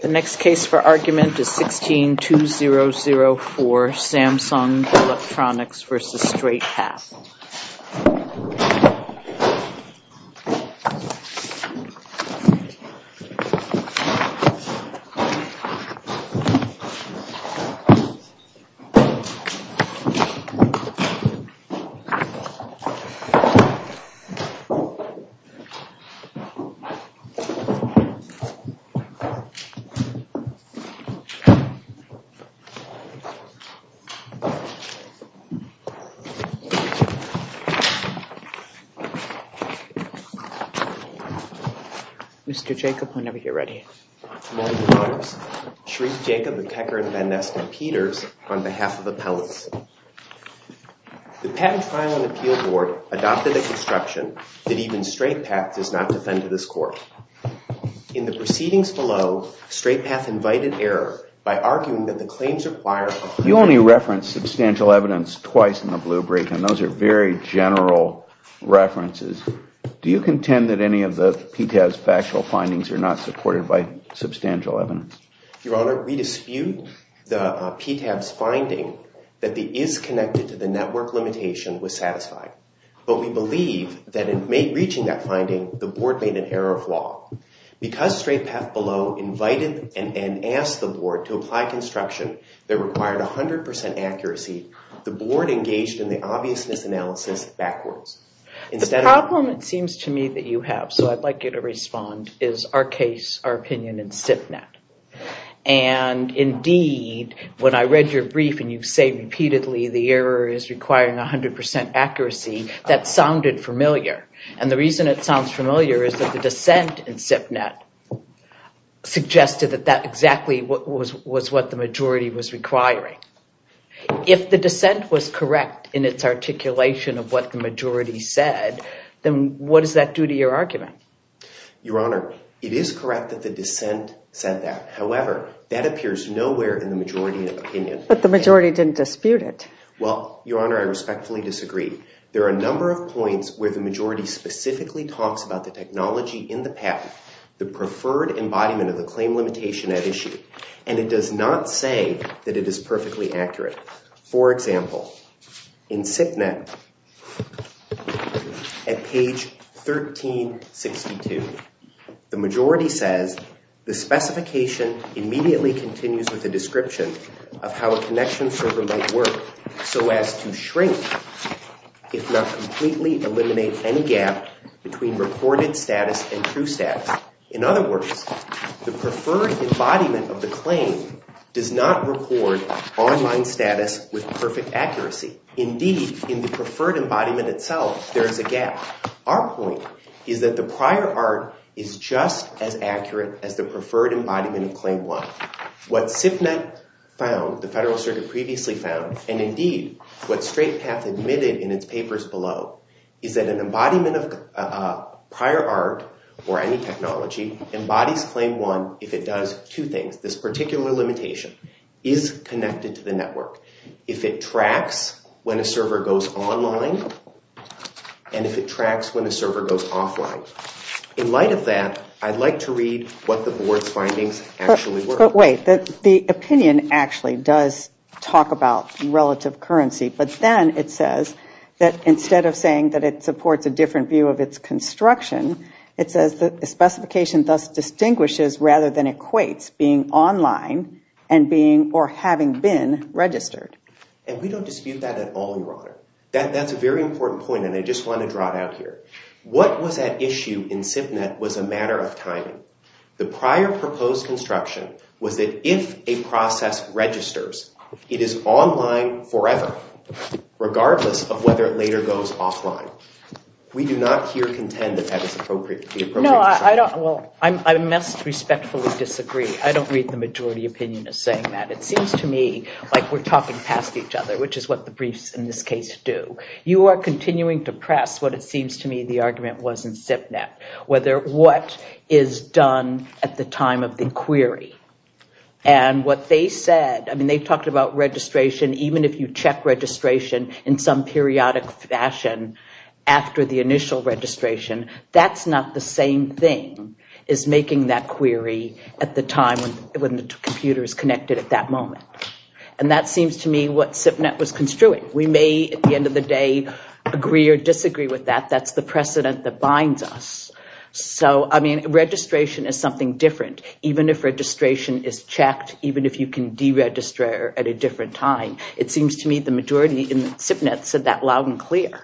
The next case for argument is 16-2004, Samsung Electronics v. Straight Path. Mr. Jacob, whenever you're ready. Morning, Your Honors. Shriek Jacob, a techer at Van Ness and Peter's, on behalf of Appellants. The Patent Trial and Appeal Board adopted a construction that even Straight Path does not defend to this Court. In the proceedings below, Straight Path invited error by arguing that the claims require... You only referenced substantial evidence twice in the blue brief, and those are very general references. Do you contend that any of the PTAB's factual findings are not supported by substantial evidence? Your Honor, we dispute the PTAB's finding that the is-connected-to-the-network limitation was satisfied. But we believe that in reaching that finding, the Board made an error of law. Because Straight Path below invited and asked the Board to apply construction that required 100% accuracy, the Board engaged in the obviousness analysis backwards. The problem, it seems to me, that you have, so I'd like you to respond, is our case, our opinion in SIPNet. And indeed, when I read your brief and you say repeatedly the error is requiring 100% accuracy, that sounded familiar. And the reason it sounds familiar is that the dissent in SIPNet suggested that that exactly was what the majority was requiring. If the dissent was correct in its articulation of what the majority said, then what does that do to your argument? Your Honor, it is correct that the dissent said that. However, that appears nowhere in the majority of opinion. But the majority didn't dispute it. Well, Your Honor, I respectfully disagree. There are a number of points where the majority specifically talks about the technology in the patent, the preferred embodiment of the claim limitation at issue. And it does not say that it is perfectly accurate. For example, in SIPNet, at page 1362, the majority says, the specification immediately continues with a description of how a connection server might work so as to shrink, if not completely eliminate any gap between reported status and true status. In other words, the preferred embodiment of the claim does not record online status with perfect accuracy. Indeed, in the preferred embodiment itself, there is a gap. Our point is that the prior art is just as accurate as the preferred embodiment of claim one. What SIPNet found, the Federal Circuit previously found, and indeed what Straight Path admitted in its papers below, is that an embodiment of prior art, or any technology, embodies claim one if it does two things. This particular limitation is connected to the network. If it tracks when a server goes online, and if it tracks when a server goes offline. In light of that, I'd like to read what the Board's findings actually were. But wait, the opinion actually does talk about relative currency, but then it says that instead of saying that it supports a different view of its construction, it says that the specification thus distinguishes rather than equates being online and being, or having been, registered. And we don't dispute that at all, Your Honor. That's a very important point, and I just want to draw it out here. What was at issue in SIPNet was a matter of timing. The prior proposed construction was that if a process registers, it is online forever, regardless of whether it later goes offline. We do not here contend that that is appropriate. No, I don't, well, I must respectfully disagree. I don't read the majority opinion as saying that. It seems to me like we're talking past each other, which is what the briefs in this case do. You are continuing to press what it seems to me the argument was in SIPNet, whether what is done at the time of the query. And what they said, I mean, they talked about registration, even if you check registration in some periodic fashion after the initial registration, that's not the same thing as making that query at the time when the computer is connected at that moment. And that seems to me what SIPNet was construing. We may, at the end of the day, agree or disagree with that. That's the precedent that binds us. So, I mean, registration is something different, even if registration is checked, even if you can deregister at a different time. It seems to me the majority in SIPNet said that loud and clear.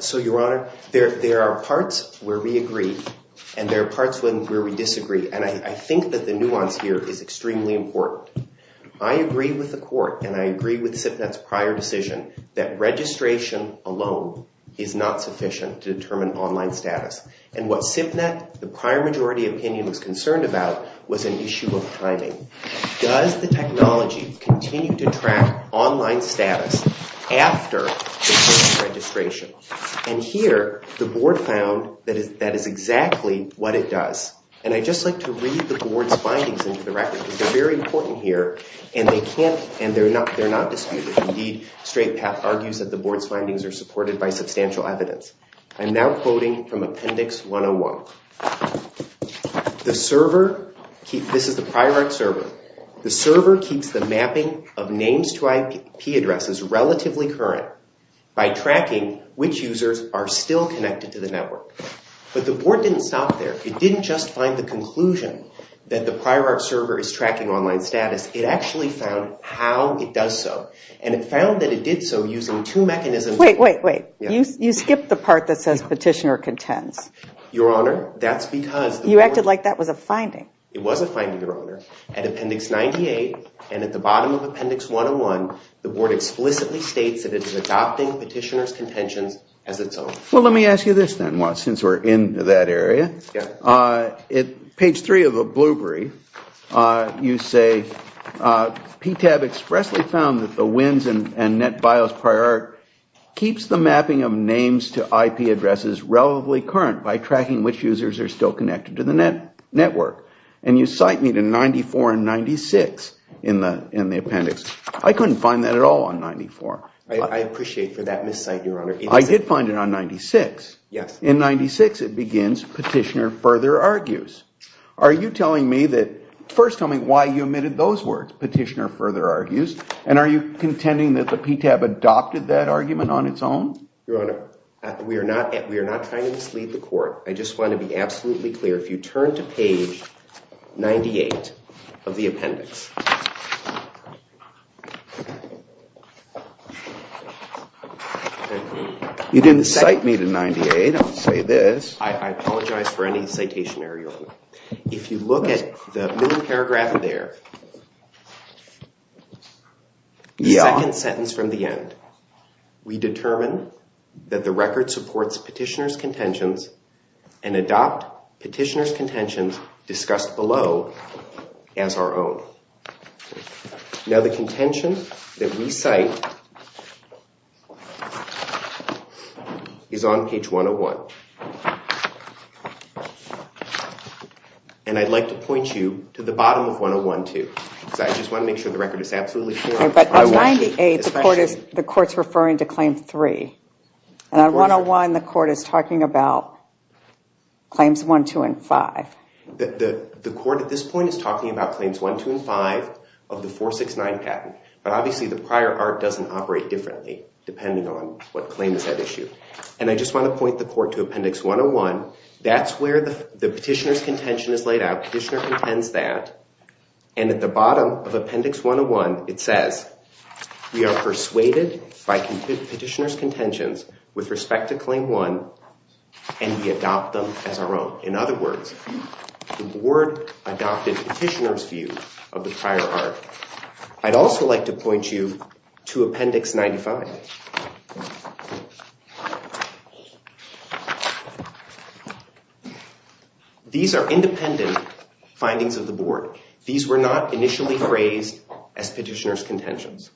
So, Your Honor, there are parts where we agree, and there are parts where we disagree. And I think that the nuance here is extremely important. I agree with the court, and I agree with SIPNet's prior decision that registration alone is not sufficient to determine online status. And what SIPNet, the prior majority opinion was concerned about was an issue of timing. Does the technology continue to track online status after the first registration? And here, the board found that is exactly what it does. And I'd just like to read the board's findings into the record, because they're very important here, and they're not disputed. Indeed, Straight Path argues that the board's findings are supported by substantial evidence. I'm now quoting from Appendix 101. This is the prior art server. The server keeps the mapping of names to IP addresses relatively current by tracking which users are still connected to the network. But the board didn't stop there. It didn't just find the conclusion that the prior art server is tracking online status. It actually found how it does so. And it found that it did so using two mechanisms. Wait, wait, wait. You skipped the part that says petitioner contends. Your Honor, that's because the board... You acted like that was a finding. It was a finding, Your Honor. At Appendix 98 and at the bottom of Appendix 101, the board explicitly states that it is adopting petitioner's contentions as its own. Well, let me ask you this then, since we're in that area. Page 3 of the Blueberry, you say, PTAB expressly found that the WINS and NetBIOS prior art keeps the mapping of names to IP addresses relatively current by tracking which users are still connected to the network. And you cite me to 94 and 96 in the appendix. I couldn't find that at all on 94. I appreciate for that miscite, Your Honor. I did find it on 96. In 96, it begins, petitioner further argues. Are you telling me that first tell me why you omitted those words, petitioner further argues, and are you contending that the PTAB adopted that argument on its own? Your Honor, we are not trying to mislead the court. I just want to be absolutely clear. If you turn to page 98 of the appendix. You didn't cite me to 98. Don't say this. I apologize for any citation, Your Honor. If you look at the paragraph there, the second sentence from the end, we determine that the record supports petitioner's contentions and adopt petitioner's contentions discussed below as our own. Now the contention that we cite is on page 101. And I'd like to point you to the bottom of 101 too. I just want to make sure the record is absolutely clear. But on 98, the court is referring to claim 3. And on 101, the court is talking about claims 1, 2, and 5. The court at this point is talking about claims 1, 2, and 5 of the 469 patent. But obviously the prior art doesn't operate differently depending on what claim is at issue. And I just want to point the court to appendix 101. That's where the petitioner's contention is laid out. Petitioner contends that. And at the bottom of appendix 101, it says, we are persuaded by petitioner's contentions with respect to claim 1 and we adopt them as our own. In other words, the board adopted petitioner's view of the prior art. I'd also like to point you to appendix 95. These are independent findings of the board. These were not initially phrased as petitioner's contentions.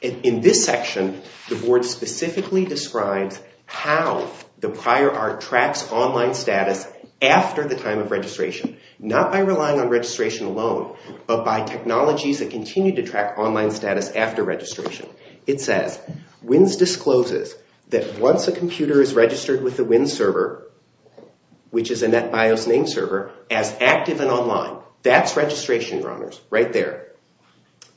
In this section, the board specifically describes how the prior art tracks online status after the time of registration. Not by relying on registration alone, but by technologies that continue to track online status after registration. It says, WINS discloses that once a computer is registered with a WINS server, which is a NetBIOS name server, as active and online. That's registration, Your Honors, right there.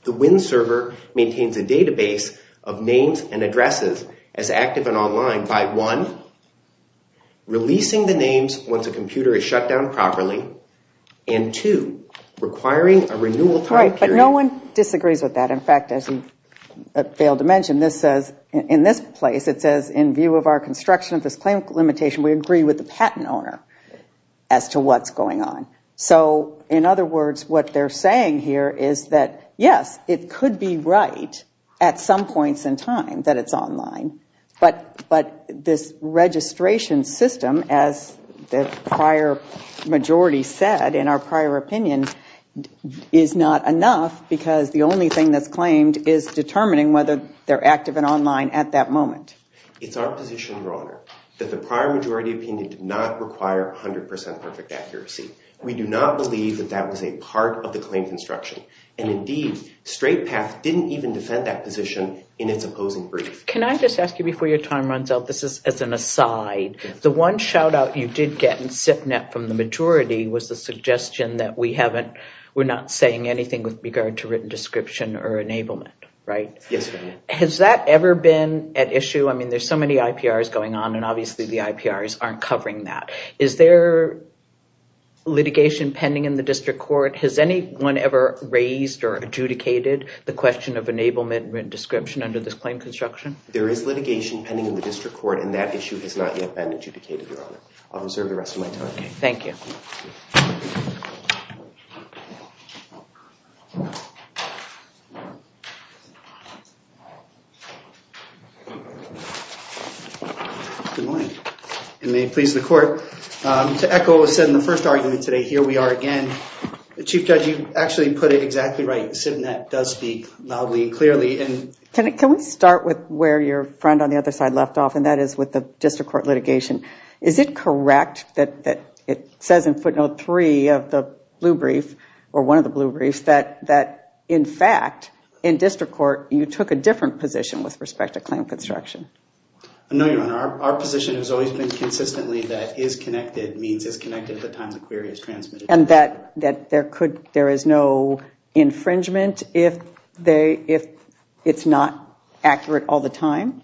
The WINS server maintains a database of names and addresses as active and online by one, releasing the names once a computer is shut down properly, and two, requiring a renewal time period. Right, but no one disagrees with that. In fact, as you failed to mention, this says, in this place, it says, in view of our construction of this claim limitation, we agree with the patent owner as to what's going on. So, in other words, what they're saying here is that, yes, it could be right at some points in time that it's online, but this registration system, as the prior majority said, in our prior opinion, is not enough because the only thing that's claimed is determining whether they're active and online at that moment. It's our position, Your Honor, that the prior majority opinion did not require 100% perfect accuracy. We do not believe that that was a part of the claim construction, and indeed, Straight Path didn't even defend that position in its opposing brief. Can I just ask you, before your time runs out, this is as an aside. The one shout-out you did get in SIP-Net from the majority was the suggestion that we haven't, we're not saying anything with regard to written description or enablement, right? Yes, Your Honor. Has that ever been at issue? I mean, there's so many IPRs going on, and obviously the IPRs aren't covering that. Is there litigation pending in the district court? Has anyone ever raised or adjudicated the question of enablement and written description under this claim construction? There is litigation pending in the district court, and that issue has not yet been adjudicated, Your Honor. I'll reserve the rest of my time. Thank you. Good morning, and may it please the Court. To echo what was said in the first argument today, here we are again. Chief Judge, you actually put it exactly right. SIP-Net does speak loudly and clearly. Can we start with where your friend on the other side left off, and that is with the district court litigation? Is it correct that it says in footnote three of the blue brief, or one of the blue briefs, that in fact, in district court, you took a different position with respect to claim construction? No, Your Honor. Our position has always been consistently that is connected means it's connected at the time the query is transmitted. And that there is no infringement if it's not accurate all the time?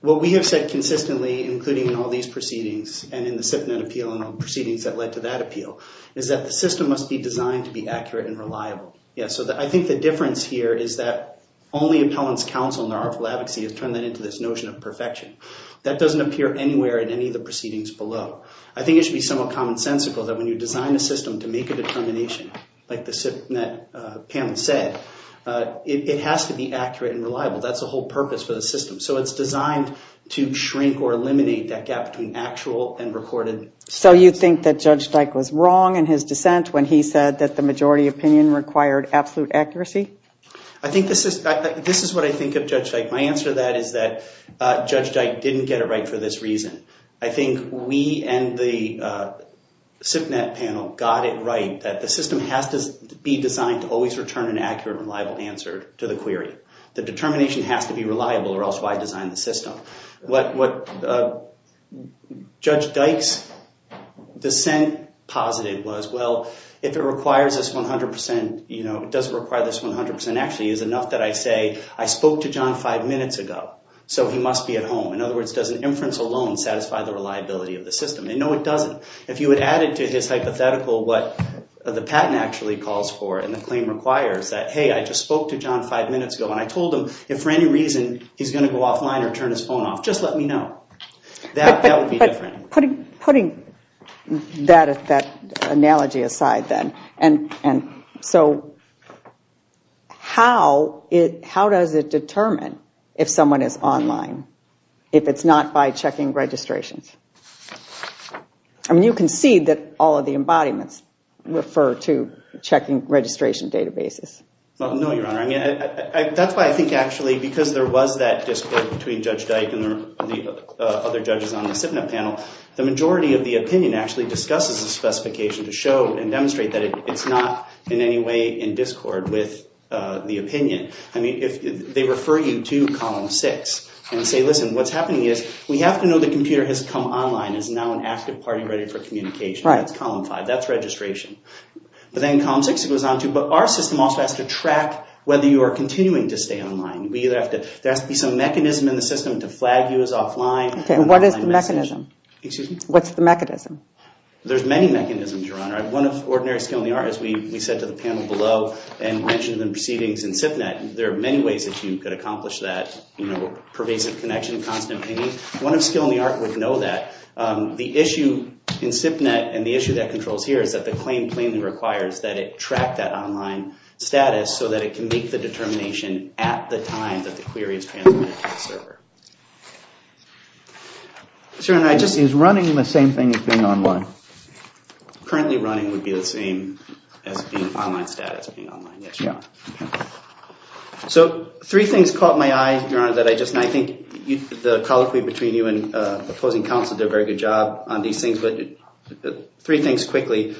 What we have said consistently, including in all these proceedings, and in the SIP-Net appeal and the proceedings that led to that appeal, is that the system must be designed to be accurate and reliable. Yes, so I think the difference here is that only appellant's counsel in the artful advocacy has turned that into this notion of perfection. That doesn't appear anywhere in any of the proceedings below. I think it should be somewhat commonsensical that when you design a system to make a determination, like the SIP-Net panel said, it has to be accurate and reliable. That's the whole purpose for the system. So it's designed to shrink or eliminate that gap between actual and recorded. So you think that Judge Dyke was wrong in his dissent when he said that the majority opinion required absolute accuracy? I think this is what I think of Judge Dyke. My answer to that is that Judge Dyke didn't get it right for this reason. I think we and the SIP-Net panel got it right that the system has to be designed to always return an accurate and reliable answer to the query. The determination has to be reliable or else why design the system? What Judge Dyke's dissent posited was, well, if it requires this 100 percent, does it require this 100 percent? Actually, is it enough that I say, I spoke to John five minutes ago, so he must be at home? In other words, does an inference alone satisfy the reliability of the system? No, it doesn't. If you had added to his hypothetical what the patent actually calls for and the claim requires that, hey, I just spoke to John five minutes ago and I told him if for any reason he's going to go offline or turn his phone off, just let me know. That would be different. Putting that analogy aside then, how does it determine if someone is online if it's not by checking registrations? You can see that all of the embodiments refer to checking registration databases. No, Your Honor. That's why I think actually because there was that discord between Judge Dyke and the other judges on the SIPnet panel, the majority of the opinion actually discusses the specification to show and demonstrate that it's not in any way in discord with the opinion. They refer you to column six and say, listen, what's happening is we have to know the computer has come online and is now an active party ready for communication. That's column five. That's registration. But then column six it goes on to, but our system also has to track whether you are continuing to stay online. There has to be some mechanism in the system to flag you as offline. Okay, and what is the mechanism? Excuse me? What's the mechanism? There's many mechanisms, Your Honor. One of ordinary skill in the art, as we said to the panel below and mentioned in the proceedings in SIPnet, there are many ways that you could accomplish that pervasive connection, constant pain. One of skill in the art would know that. The issue in SIPnet and the issue that controls here is that the claim plainly requires that it track that online status so that it can make the determination at the time that the query is transmitted to the server. Is running the same thing as being online? Currently running would be the same as being online status, being online, yes, Your Honor. So three things caught my eye, Your Honor, that I just, and I think the colloquy between you and opposing counsel did a very good job on these things, but three things quickly.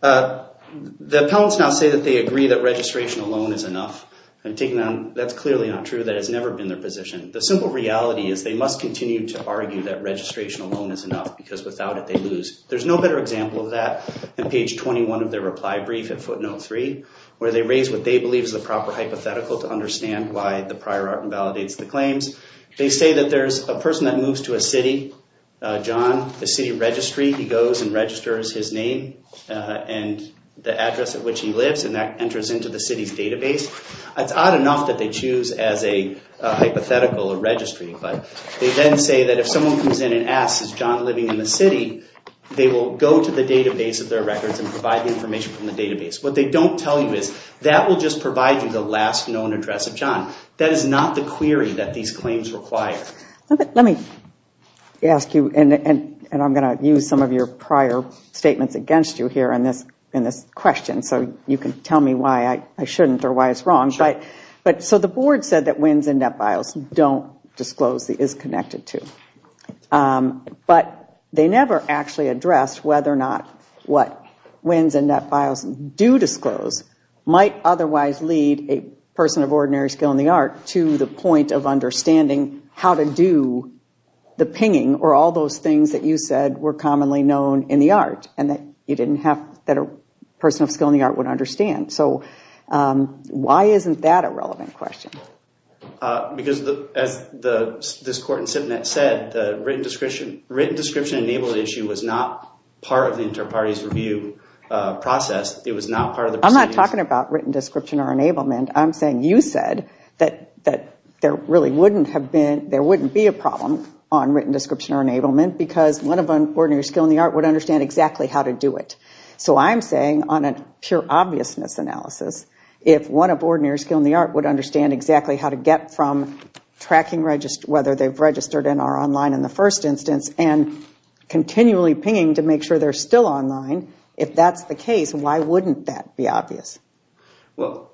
The appellants now say that they agree that registration alone is enough. That's clearly not true. That has never been their position. The simple reality is they must continue to argue that registration alone is enough because without it they lose. There's no better example of that than page 21 of their reply brief at footnote 3 where they raise what they believe is the proper hypothetical to understand why the prior art invalidates the claims. They say that there's a person that moves to a city, John, a city registry. He goes and registers his name and the address at which he lives and that enters into the city's database. It's odd enough that they choose as a hypothetical a registry, but they then say that if someone comes in and asks, is John living in the city? They will go to the database of their records and provide the information from the database. What they don't tell you is that will just provide you the last known address of John. That is not the query that these claims require. Let me ask you, and I'm going to use some of your prior statements against you here in this question so you can tell me why I shouldn't or why it's wrong. So the board said that WINS and NetFiles don't disclose the is connected to. But they never actually addressed whether or not what WINS and NetFiles do disclose might otherwise lead a person of ordinary skill in the art to the point of understanding how to do the pinging or all those things that you said were commonly known in the art and that a person of skill in the art would understand. So why isn't that a relevant question? Because as this court in Sipnet said, the written description enabled issue was not part of the inter-parties review process. It was not part of the proceedings. I'm not talking about written description or enablement. I'm saying you said that there wouldn't be a problem on written description or enablement because one of ordinary skill in the art would understand exactly how to do it. So I'm saying on a pure obviousness analysis, if one of ordinary skill in the art would understand exactly how to get from tracking whether they've registered and are online in the first instance and continually pinging to make sure they're still online, if that's the case, why wouldn't that be obvious? Well,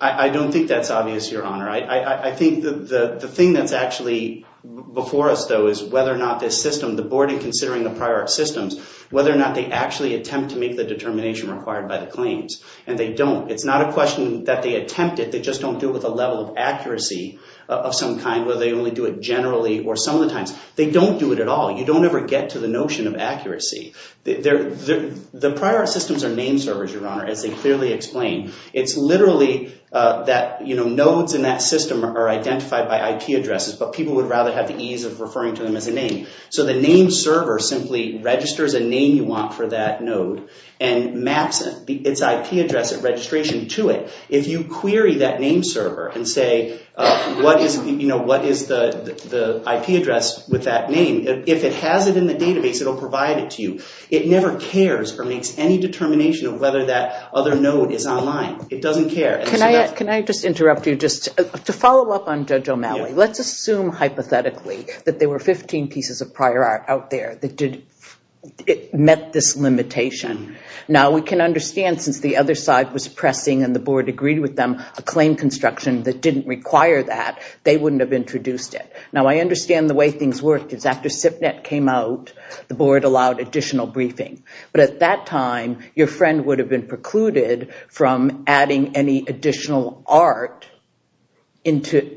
I don't think that's obvious, Your Honor. I think the thing that's actually before us though is whether or not this system, the board in considering the prior art systems, whether or not they actually attempt to make the determination required by the claims. And they don't. It's not a question that they attempt it. They just don't do it with a level of accuracy of some kind, whether they only do it generally or some of the times. They don't do it at all. You don't ever get to the notion of accuracy. The prior art systems are name servers, Your Honor, as they clearly explain. It's literally that nodes in that system are identified by IP addresses, but people would rather have the ease of referring to them as a name. So the name server simply registers a name you want for that node and maps its IP address and registration to it. If you query that name server and say what is the IP address with that name, if it has it in the database, it will provide it to you. It never cares or makes any determination of whether that other node is online. It doesn't care. Can I just interrupt you just to follow up on Judge O'Malley? Let's assume hypothetically that there were 15 pieces of prior art out there that met this limitation. Now we can understand since the other side was pressing and the board agreed with them a claim construction that didn't require that, they wouldn't have introduced it. Now I understand the way things worked is after SIPNet came out, the board allowed additional briefing. But at that time, your friend would have been precluded from adding any additional art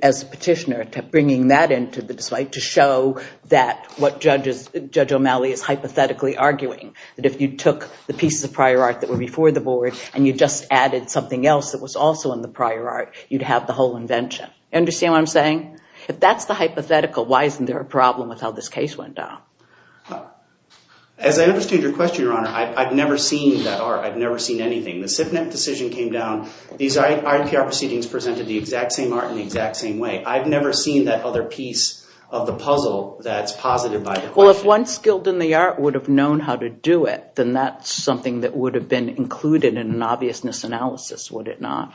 as a petitioner, bringing that in to show that what Judge O'Malley is hypothetically arguing, that if you took the pieces of prior art that were before the board and you just added something else that was also in the prior art, You understand what I'm saying? If that's the hypothetical, why isn't there a problem with how this case went down? As I understand your question, Your Honor, I've never seen that art. I've never seen anything. The SIPNet decision came down. These IPR proceedings presented the exact same art in the exact same way. I've never seen that other piece of the puzzle that's posited by the question. Well, if one skilled in the art would have known how to do it, then that's something that would have been included in an obviousness analysis, would it not?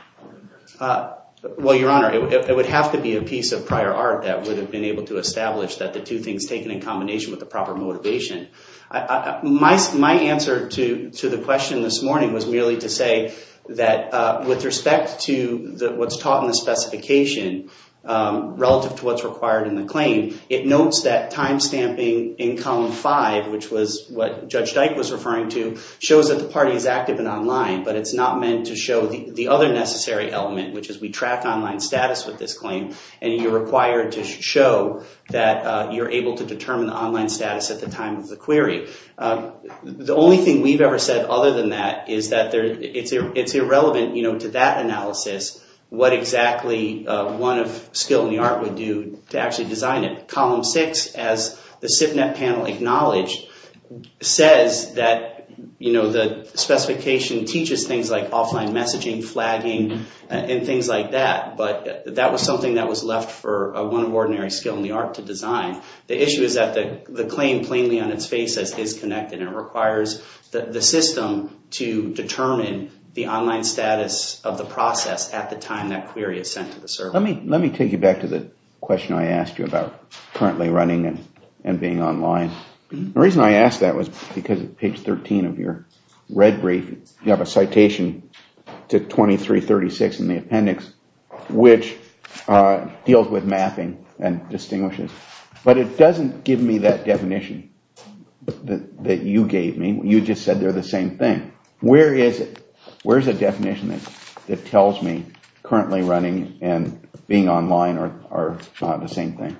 Well, Your Honor, it would have to be a piece of prior art that would have been able to establish that the two things taken in combination with the proper motivation. My answer to the question this morning was merely to say that with respect to what's taught in the specification relative to what's required in the claim, it notes that time stamping in column five, which was what Judge Dyke was referring to, shows that the party is active and online, but it's not meant to show the other necessary element, which is we track online status with this claim, and you're required to show that you're able to determine online status at the time of the query. The only thing we've ever said other than that is that it's irrelevant to that analysis what exactly one of skilled in the art would do to actually design it. Column six, as the SIPnet panel acknowledged, says that the specification teaches things like offline messaging, flagging, and things like that, but that was something that was left for one of ordinary skilled in the art to design. The issue is that the claim plainly on its face is connected and requires the system to determine the online status of the process at the time that query is sent to the server. Let me take you back to the question I asked you about currently running and being online. The reason I asked that was because page 13 of your red brief, you have a citation to 2336 in the appendix, which deals with mapping and distinguishes, but it doesn't give me that definition that you gave me. You just said they're the same thing. Where is the definition that tells me currently running and being online are not the same thing?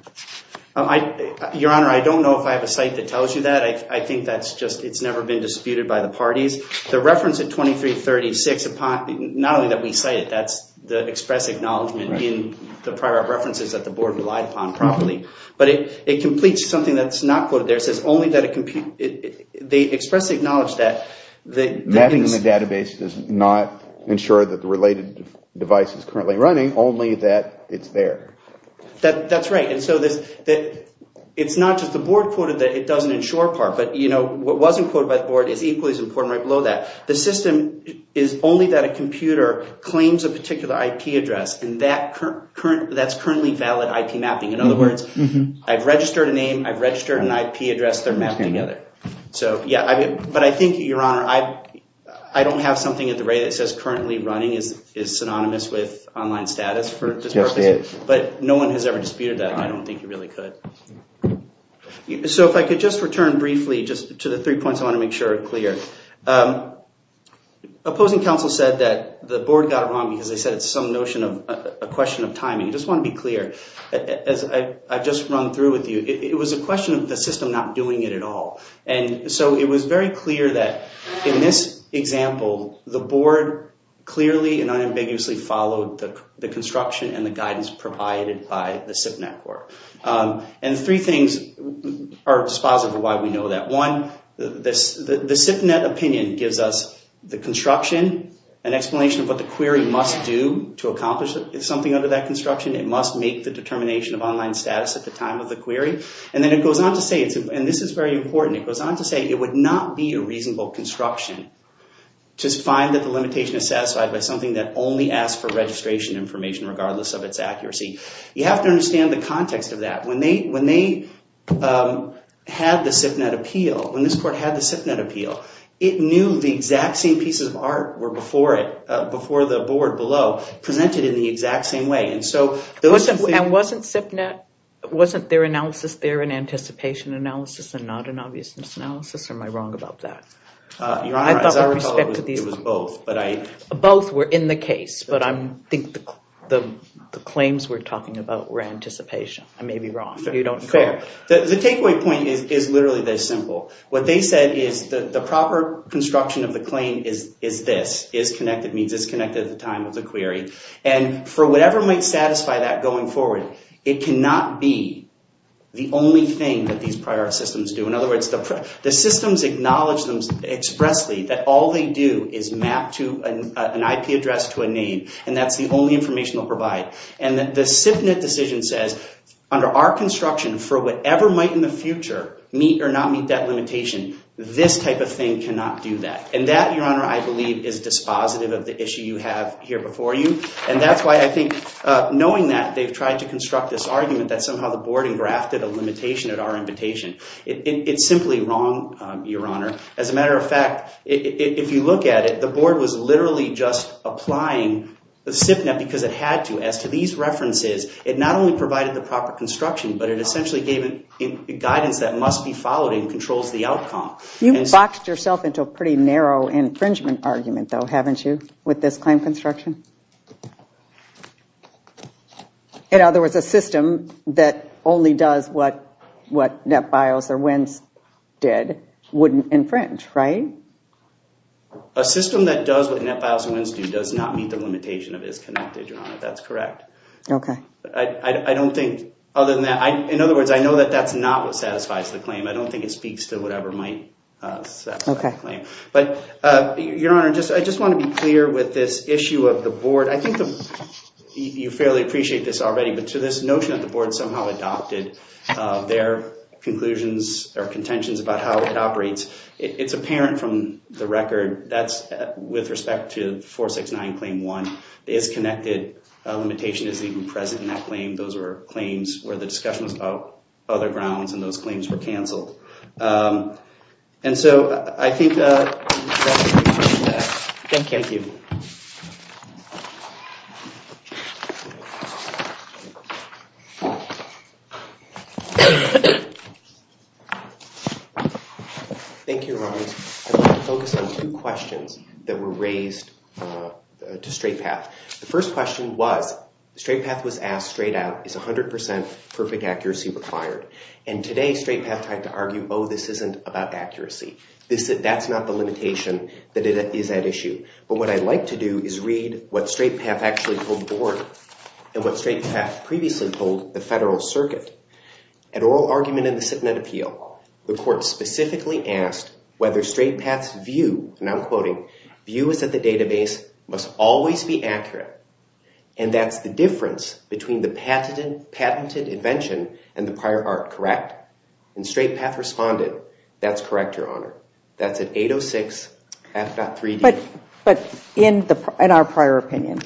Your Honor, I don't know if I have a site that tells you that. I think that's just it's never been disputed by the parties. The reference at 2336, not only that we cite it, that's the express acknowledgment in the prior references that the board relied upon properly, but it completes something that's not quoted there. They expressly acknowledge that. Mapping in the database does not ensure that the related device is currently running, only that it's there. That's right. It's not just the board quoted that it doesn't ensure part, but what wasn't quoted by the board is equally as important right below that. The system is only that a computer claims a particular IP address, and that's currently valid IP mapping. In other words, I've registered a name. I've registered an IP address. They're mapped together. Yeah, but I think, Your Honor, I don't have something at the rate that says currently running is synonymous with online status for this purpose, but no one has ever disputed that. I don't think you really could. If I could just return briefly to the three points I want to make sure are clear. Opposing counsel said that the board got it wrong because they said it's some notion of a question of timing. I just want to be clear. I've just run through with you. It was a question of the system not doing it at all. And so it was very clear that in this example, the board clearly and unambiguously followed the construction and the guidance provided by the SIP network. And three things are dispositive of why we know that. One, the SIP net opinion gives us the construction, an explanation of what the query must do to accomplish something under that construction. It must make the determination of online status at the time of the query. And then it goes on to say, and this is very important, it goes on to say it would not be a reasonable construction to find that the limitation is satisfied by something that only asks for registration information regardless of its accuracy. You have to understand the context of that. When they had the SIP net appeal, when this court had the SIP net appeal, it knew the exact same pieces of art were before it, before the board below, presented in the exact same way. And wasn't SIP net, wasn't their analysis there an anticipation analysis and not an obviousness analysis? Or am I wrong about that? Your Honor, as I recall, it was both. Both were in the case, but I think the claims we're talking about were anticipation. I may be wrong. You don't care. The takeaway point is literally this simple. What they said is that the proper construction of the claim is this, is connected, means it's connected at the time of the query. And for whatever might satisfy that going forward, it cannot be the only thing that these prior systems do. In other words, the systems acknowledge them expressly, that all they do is map an IP address to a name, and that's the only information they'll provide. And the SIP net decision says, under our construction, for whatever might in the future meet or not meet that limitation, this type of thing cannot do that. And that, Your Honor, I believe is dispositive of the issue you have here before you. And that's why I think, knowing that they've tried to construct this argument, that somehow the board engrafted a limitation at our invitation. It's simply wrong, Your Honor. As a matter of fact, if you look at it, the board was literally just applying the SIP net because it had to. As to these references, it not only provided the proper construction, but it essentially gave guidance that must be followed and controls the outcome. You've boxed yourself into a pretty narrow infringement argument, though, haven't you, with this claim construction? In other words, a system that only does what NetBIOS or WINS did wouldn't infringe, right? A system that does what NetBIOS and WINS do does not meet the limitation of is connected, Your Honor. That's correct. Okay. I don't think, other than that, in other words, I know that that's not what satisfies the claim. I don't think it speaks to whatever might satisfy the claim. Okay. But, Your Honor, I just want to be clear with this issue of the board. I think you fairly appreciate this already, but to this notion that the board somehow adopted their conclusions or contentions about how it operates, it's apparent from the record that's with respect to 469 Claim 1 is connected. A limitation is even present in that claim. I think those were claims where the discussion was about other grounds, and those claims were canceled. And so I think that's the conclusion to that. Thank you. Thank you. Thank you, Your Honor. I'd like to focus on two questions that were raised to Straight Path. The first question was, Straight Path was asked straight out, is 100% perfect accuracy required? And today, Straight Path had to argue, oh, this isn't about accuracy. That's not the limitation that is at issue. But what I'd like to do is read what Straight Path actually told the board and what Straight Path previously told the federal circuit. An oral argument in the SitNet appeal, the court specifically asked whether Straight Path's view, and I'm quoting, view is that the database must always be accurate, and that's the difference between the patented invention and the prior art, correct? And Straight Path responded, that's correct, Your Honor. That's at 806 F.3D. But in our prior opinion,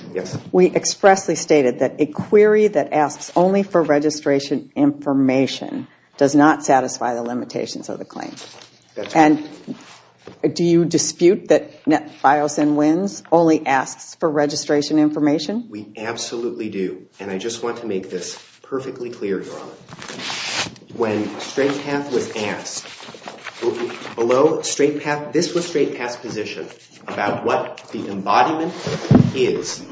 we expressly stated that a query that asks only for registration information does not satisfy the limitations of the claim. And do you dispute that Biosyn wins, only asks for registration information? We absolutely do. And I just want to make this perfectly clear, Your Honor. When Straight Path was asked, this was Straight Path's position about what the embodiment is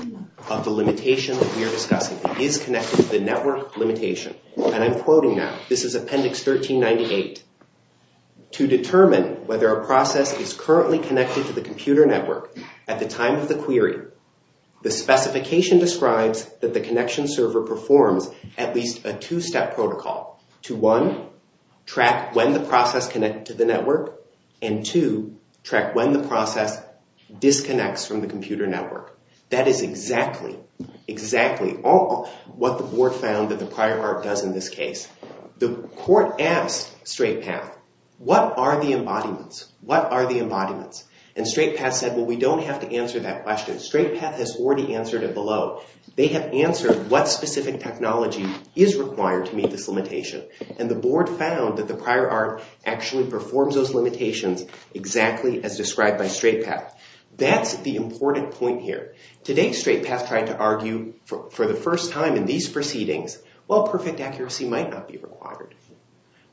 of the limitation that we are discussing. It is connected to the network limitation. And I'm quoting now. This is Appendix 1398. To determine whether a process is currently connected to the computer network at the time of the query, the specification describes that the connection server performs at least a two-step protocol to one, track when the process connected to the network, and two, track when the process disconnects from the computer network. That is exactly, exactly what the board found that the prior art does in this case. The court asked Straight Path, what are the embodiments? What are the embodiments? And Straight Path said, well, we don't have to answer that question. Straight Path has already answered it below. They have answered what specific technology is required to meet this limitation. And the board found that the prior art actually performs those limitations exactly as described by Straight Path. That's the important point here. Today, Straight Path tried to argue for the first time in these proceedings, well, perfect accuracy might not be required.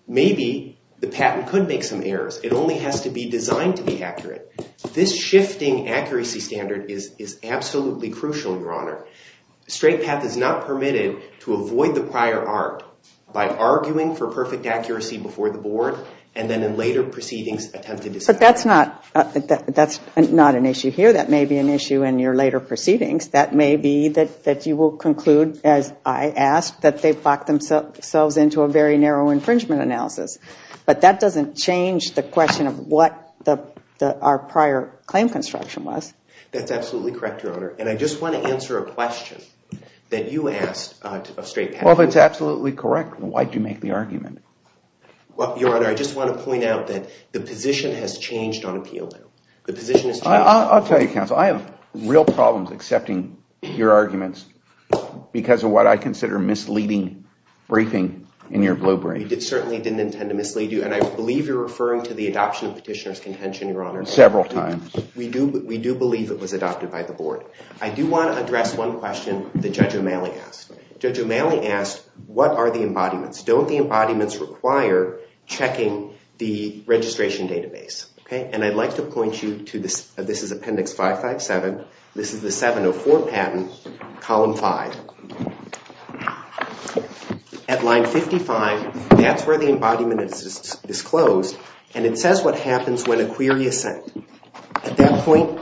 Maybe the patent could make some errors. It only has to be designed to be accurate. This shifting accuracy standard is absolutely crucial, Your Honor. Straight Path is not permitted to avoid the prior art by arguing for perfect accuracy before the board and then in later proceedings attempt to disavow it. But that's not an issue here. That may be an issue in your later proceedings. That may be that you will conclude, as I asked, that they've locked themselves into a very narrow infringement analysis. But that doesn't change the question of what our prior claim construction was. That's absolutely correct, Your Honor. And I just want to answer a question that you asked of Straight Path. Well, if it's absolutely correct, why did you make the argument? Well, Your Honor, I just want to point out that the position has changed on appeal now. The position has changed. I'll tell you, counsel, I have real problems accepting your arguments because of what I consider misleading briefing in your blue brief. We certainly didn't intend to mislead you, and I believe you're referring to the adoption of petitioner's contention, Your Honor. Several times. We do believe it was adopted by the board. I do want to address one question that Judge O'Malley asked. Judge O'Malley asked, what are the embodiments? Don't the embodiments require checking the registration database? And I'd like to point you to this. This is Appendix 557. This is the 704 patent, Column 5. At Line 55, that's where the embodiment is disclosed, and it says what happens when a query is sent. At that point,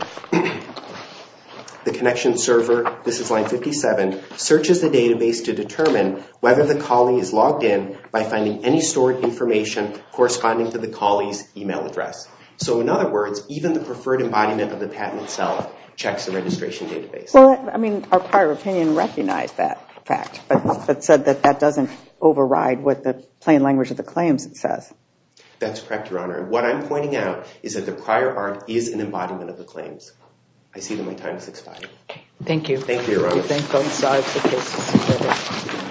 the connection server, this is Line 57, searches the database to determine whether the colleague is logged in by finding any stored information corresponding to the colleague's e-mail address. So in other words, even the preferred embodiment of the patent itself checks the registration database. Well, I mean, our prior opinion recognized that fact, but said that that doesn't override what the plain language of the claims says. That's correct, Your Honor. What I'm pointing out is that the prior art is an embodiment of the claims. I see that my time is expired. Thank you. Thank you, Your Honor. Thank you. Thank you. Come inside, take your seats. Thank you.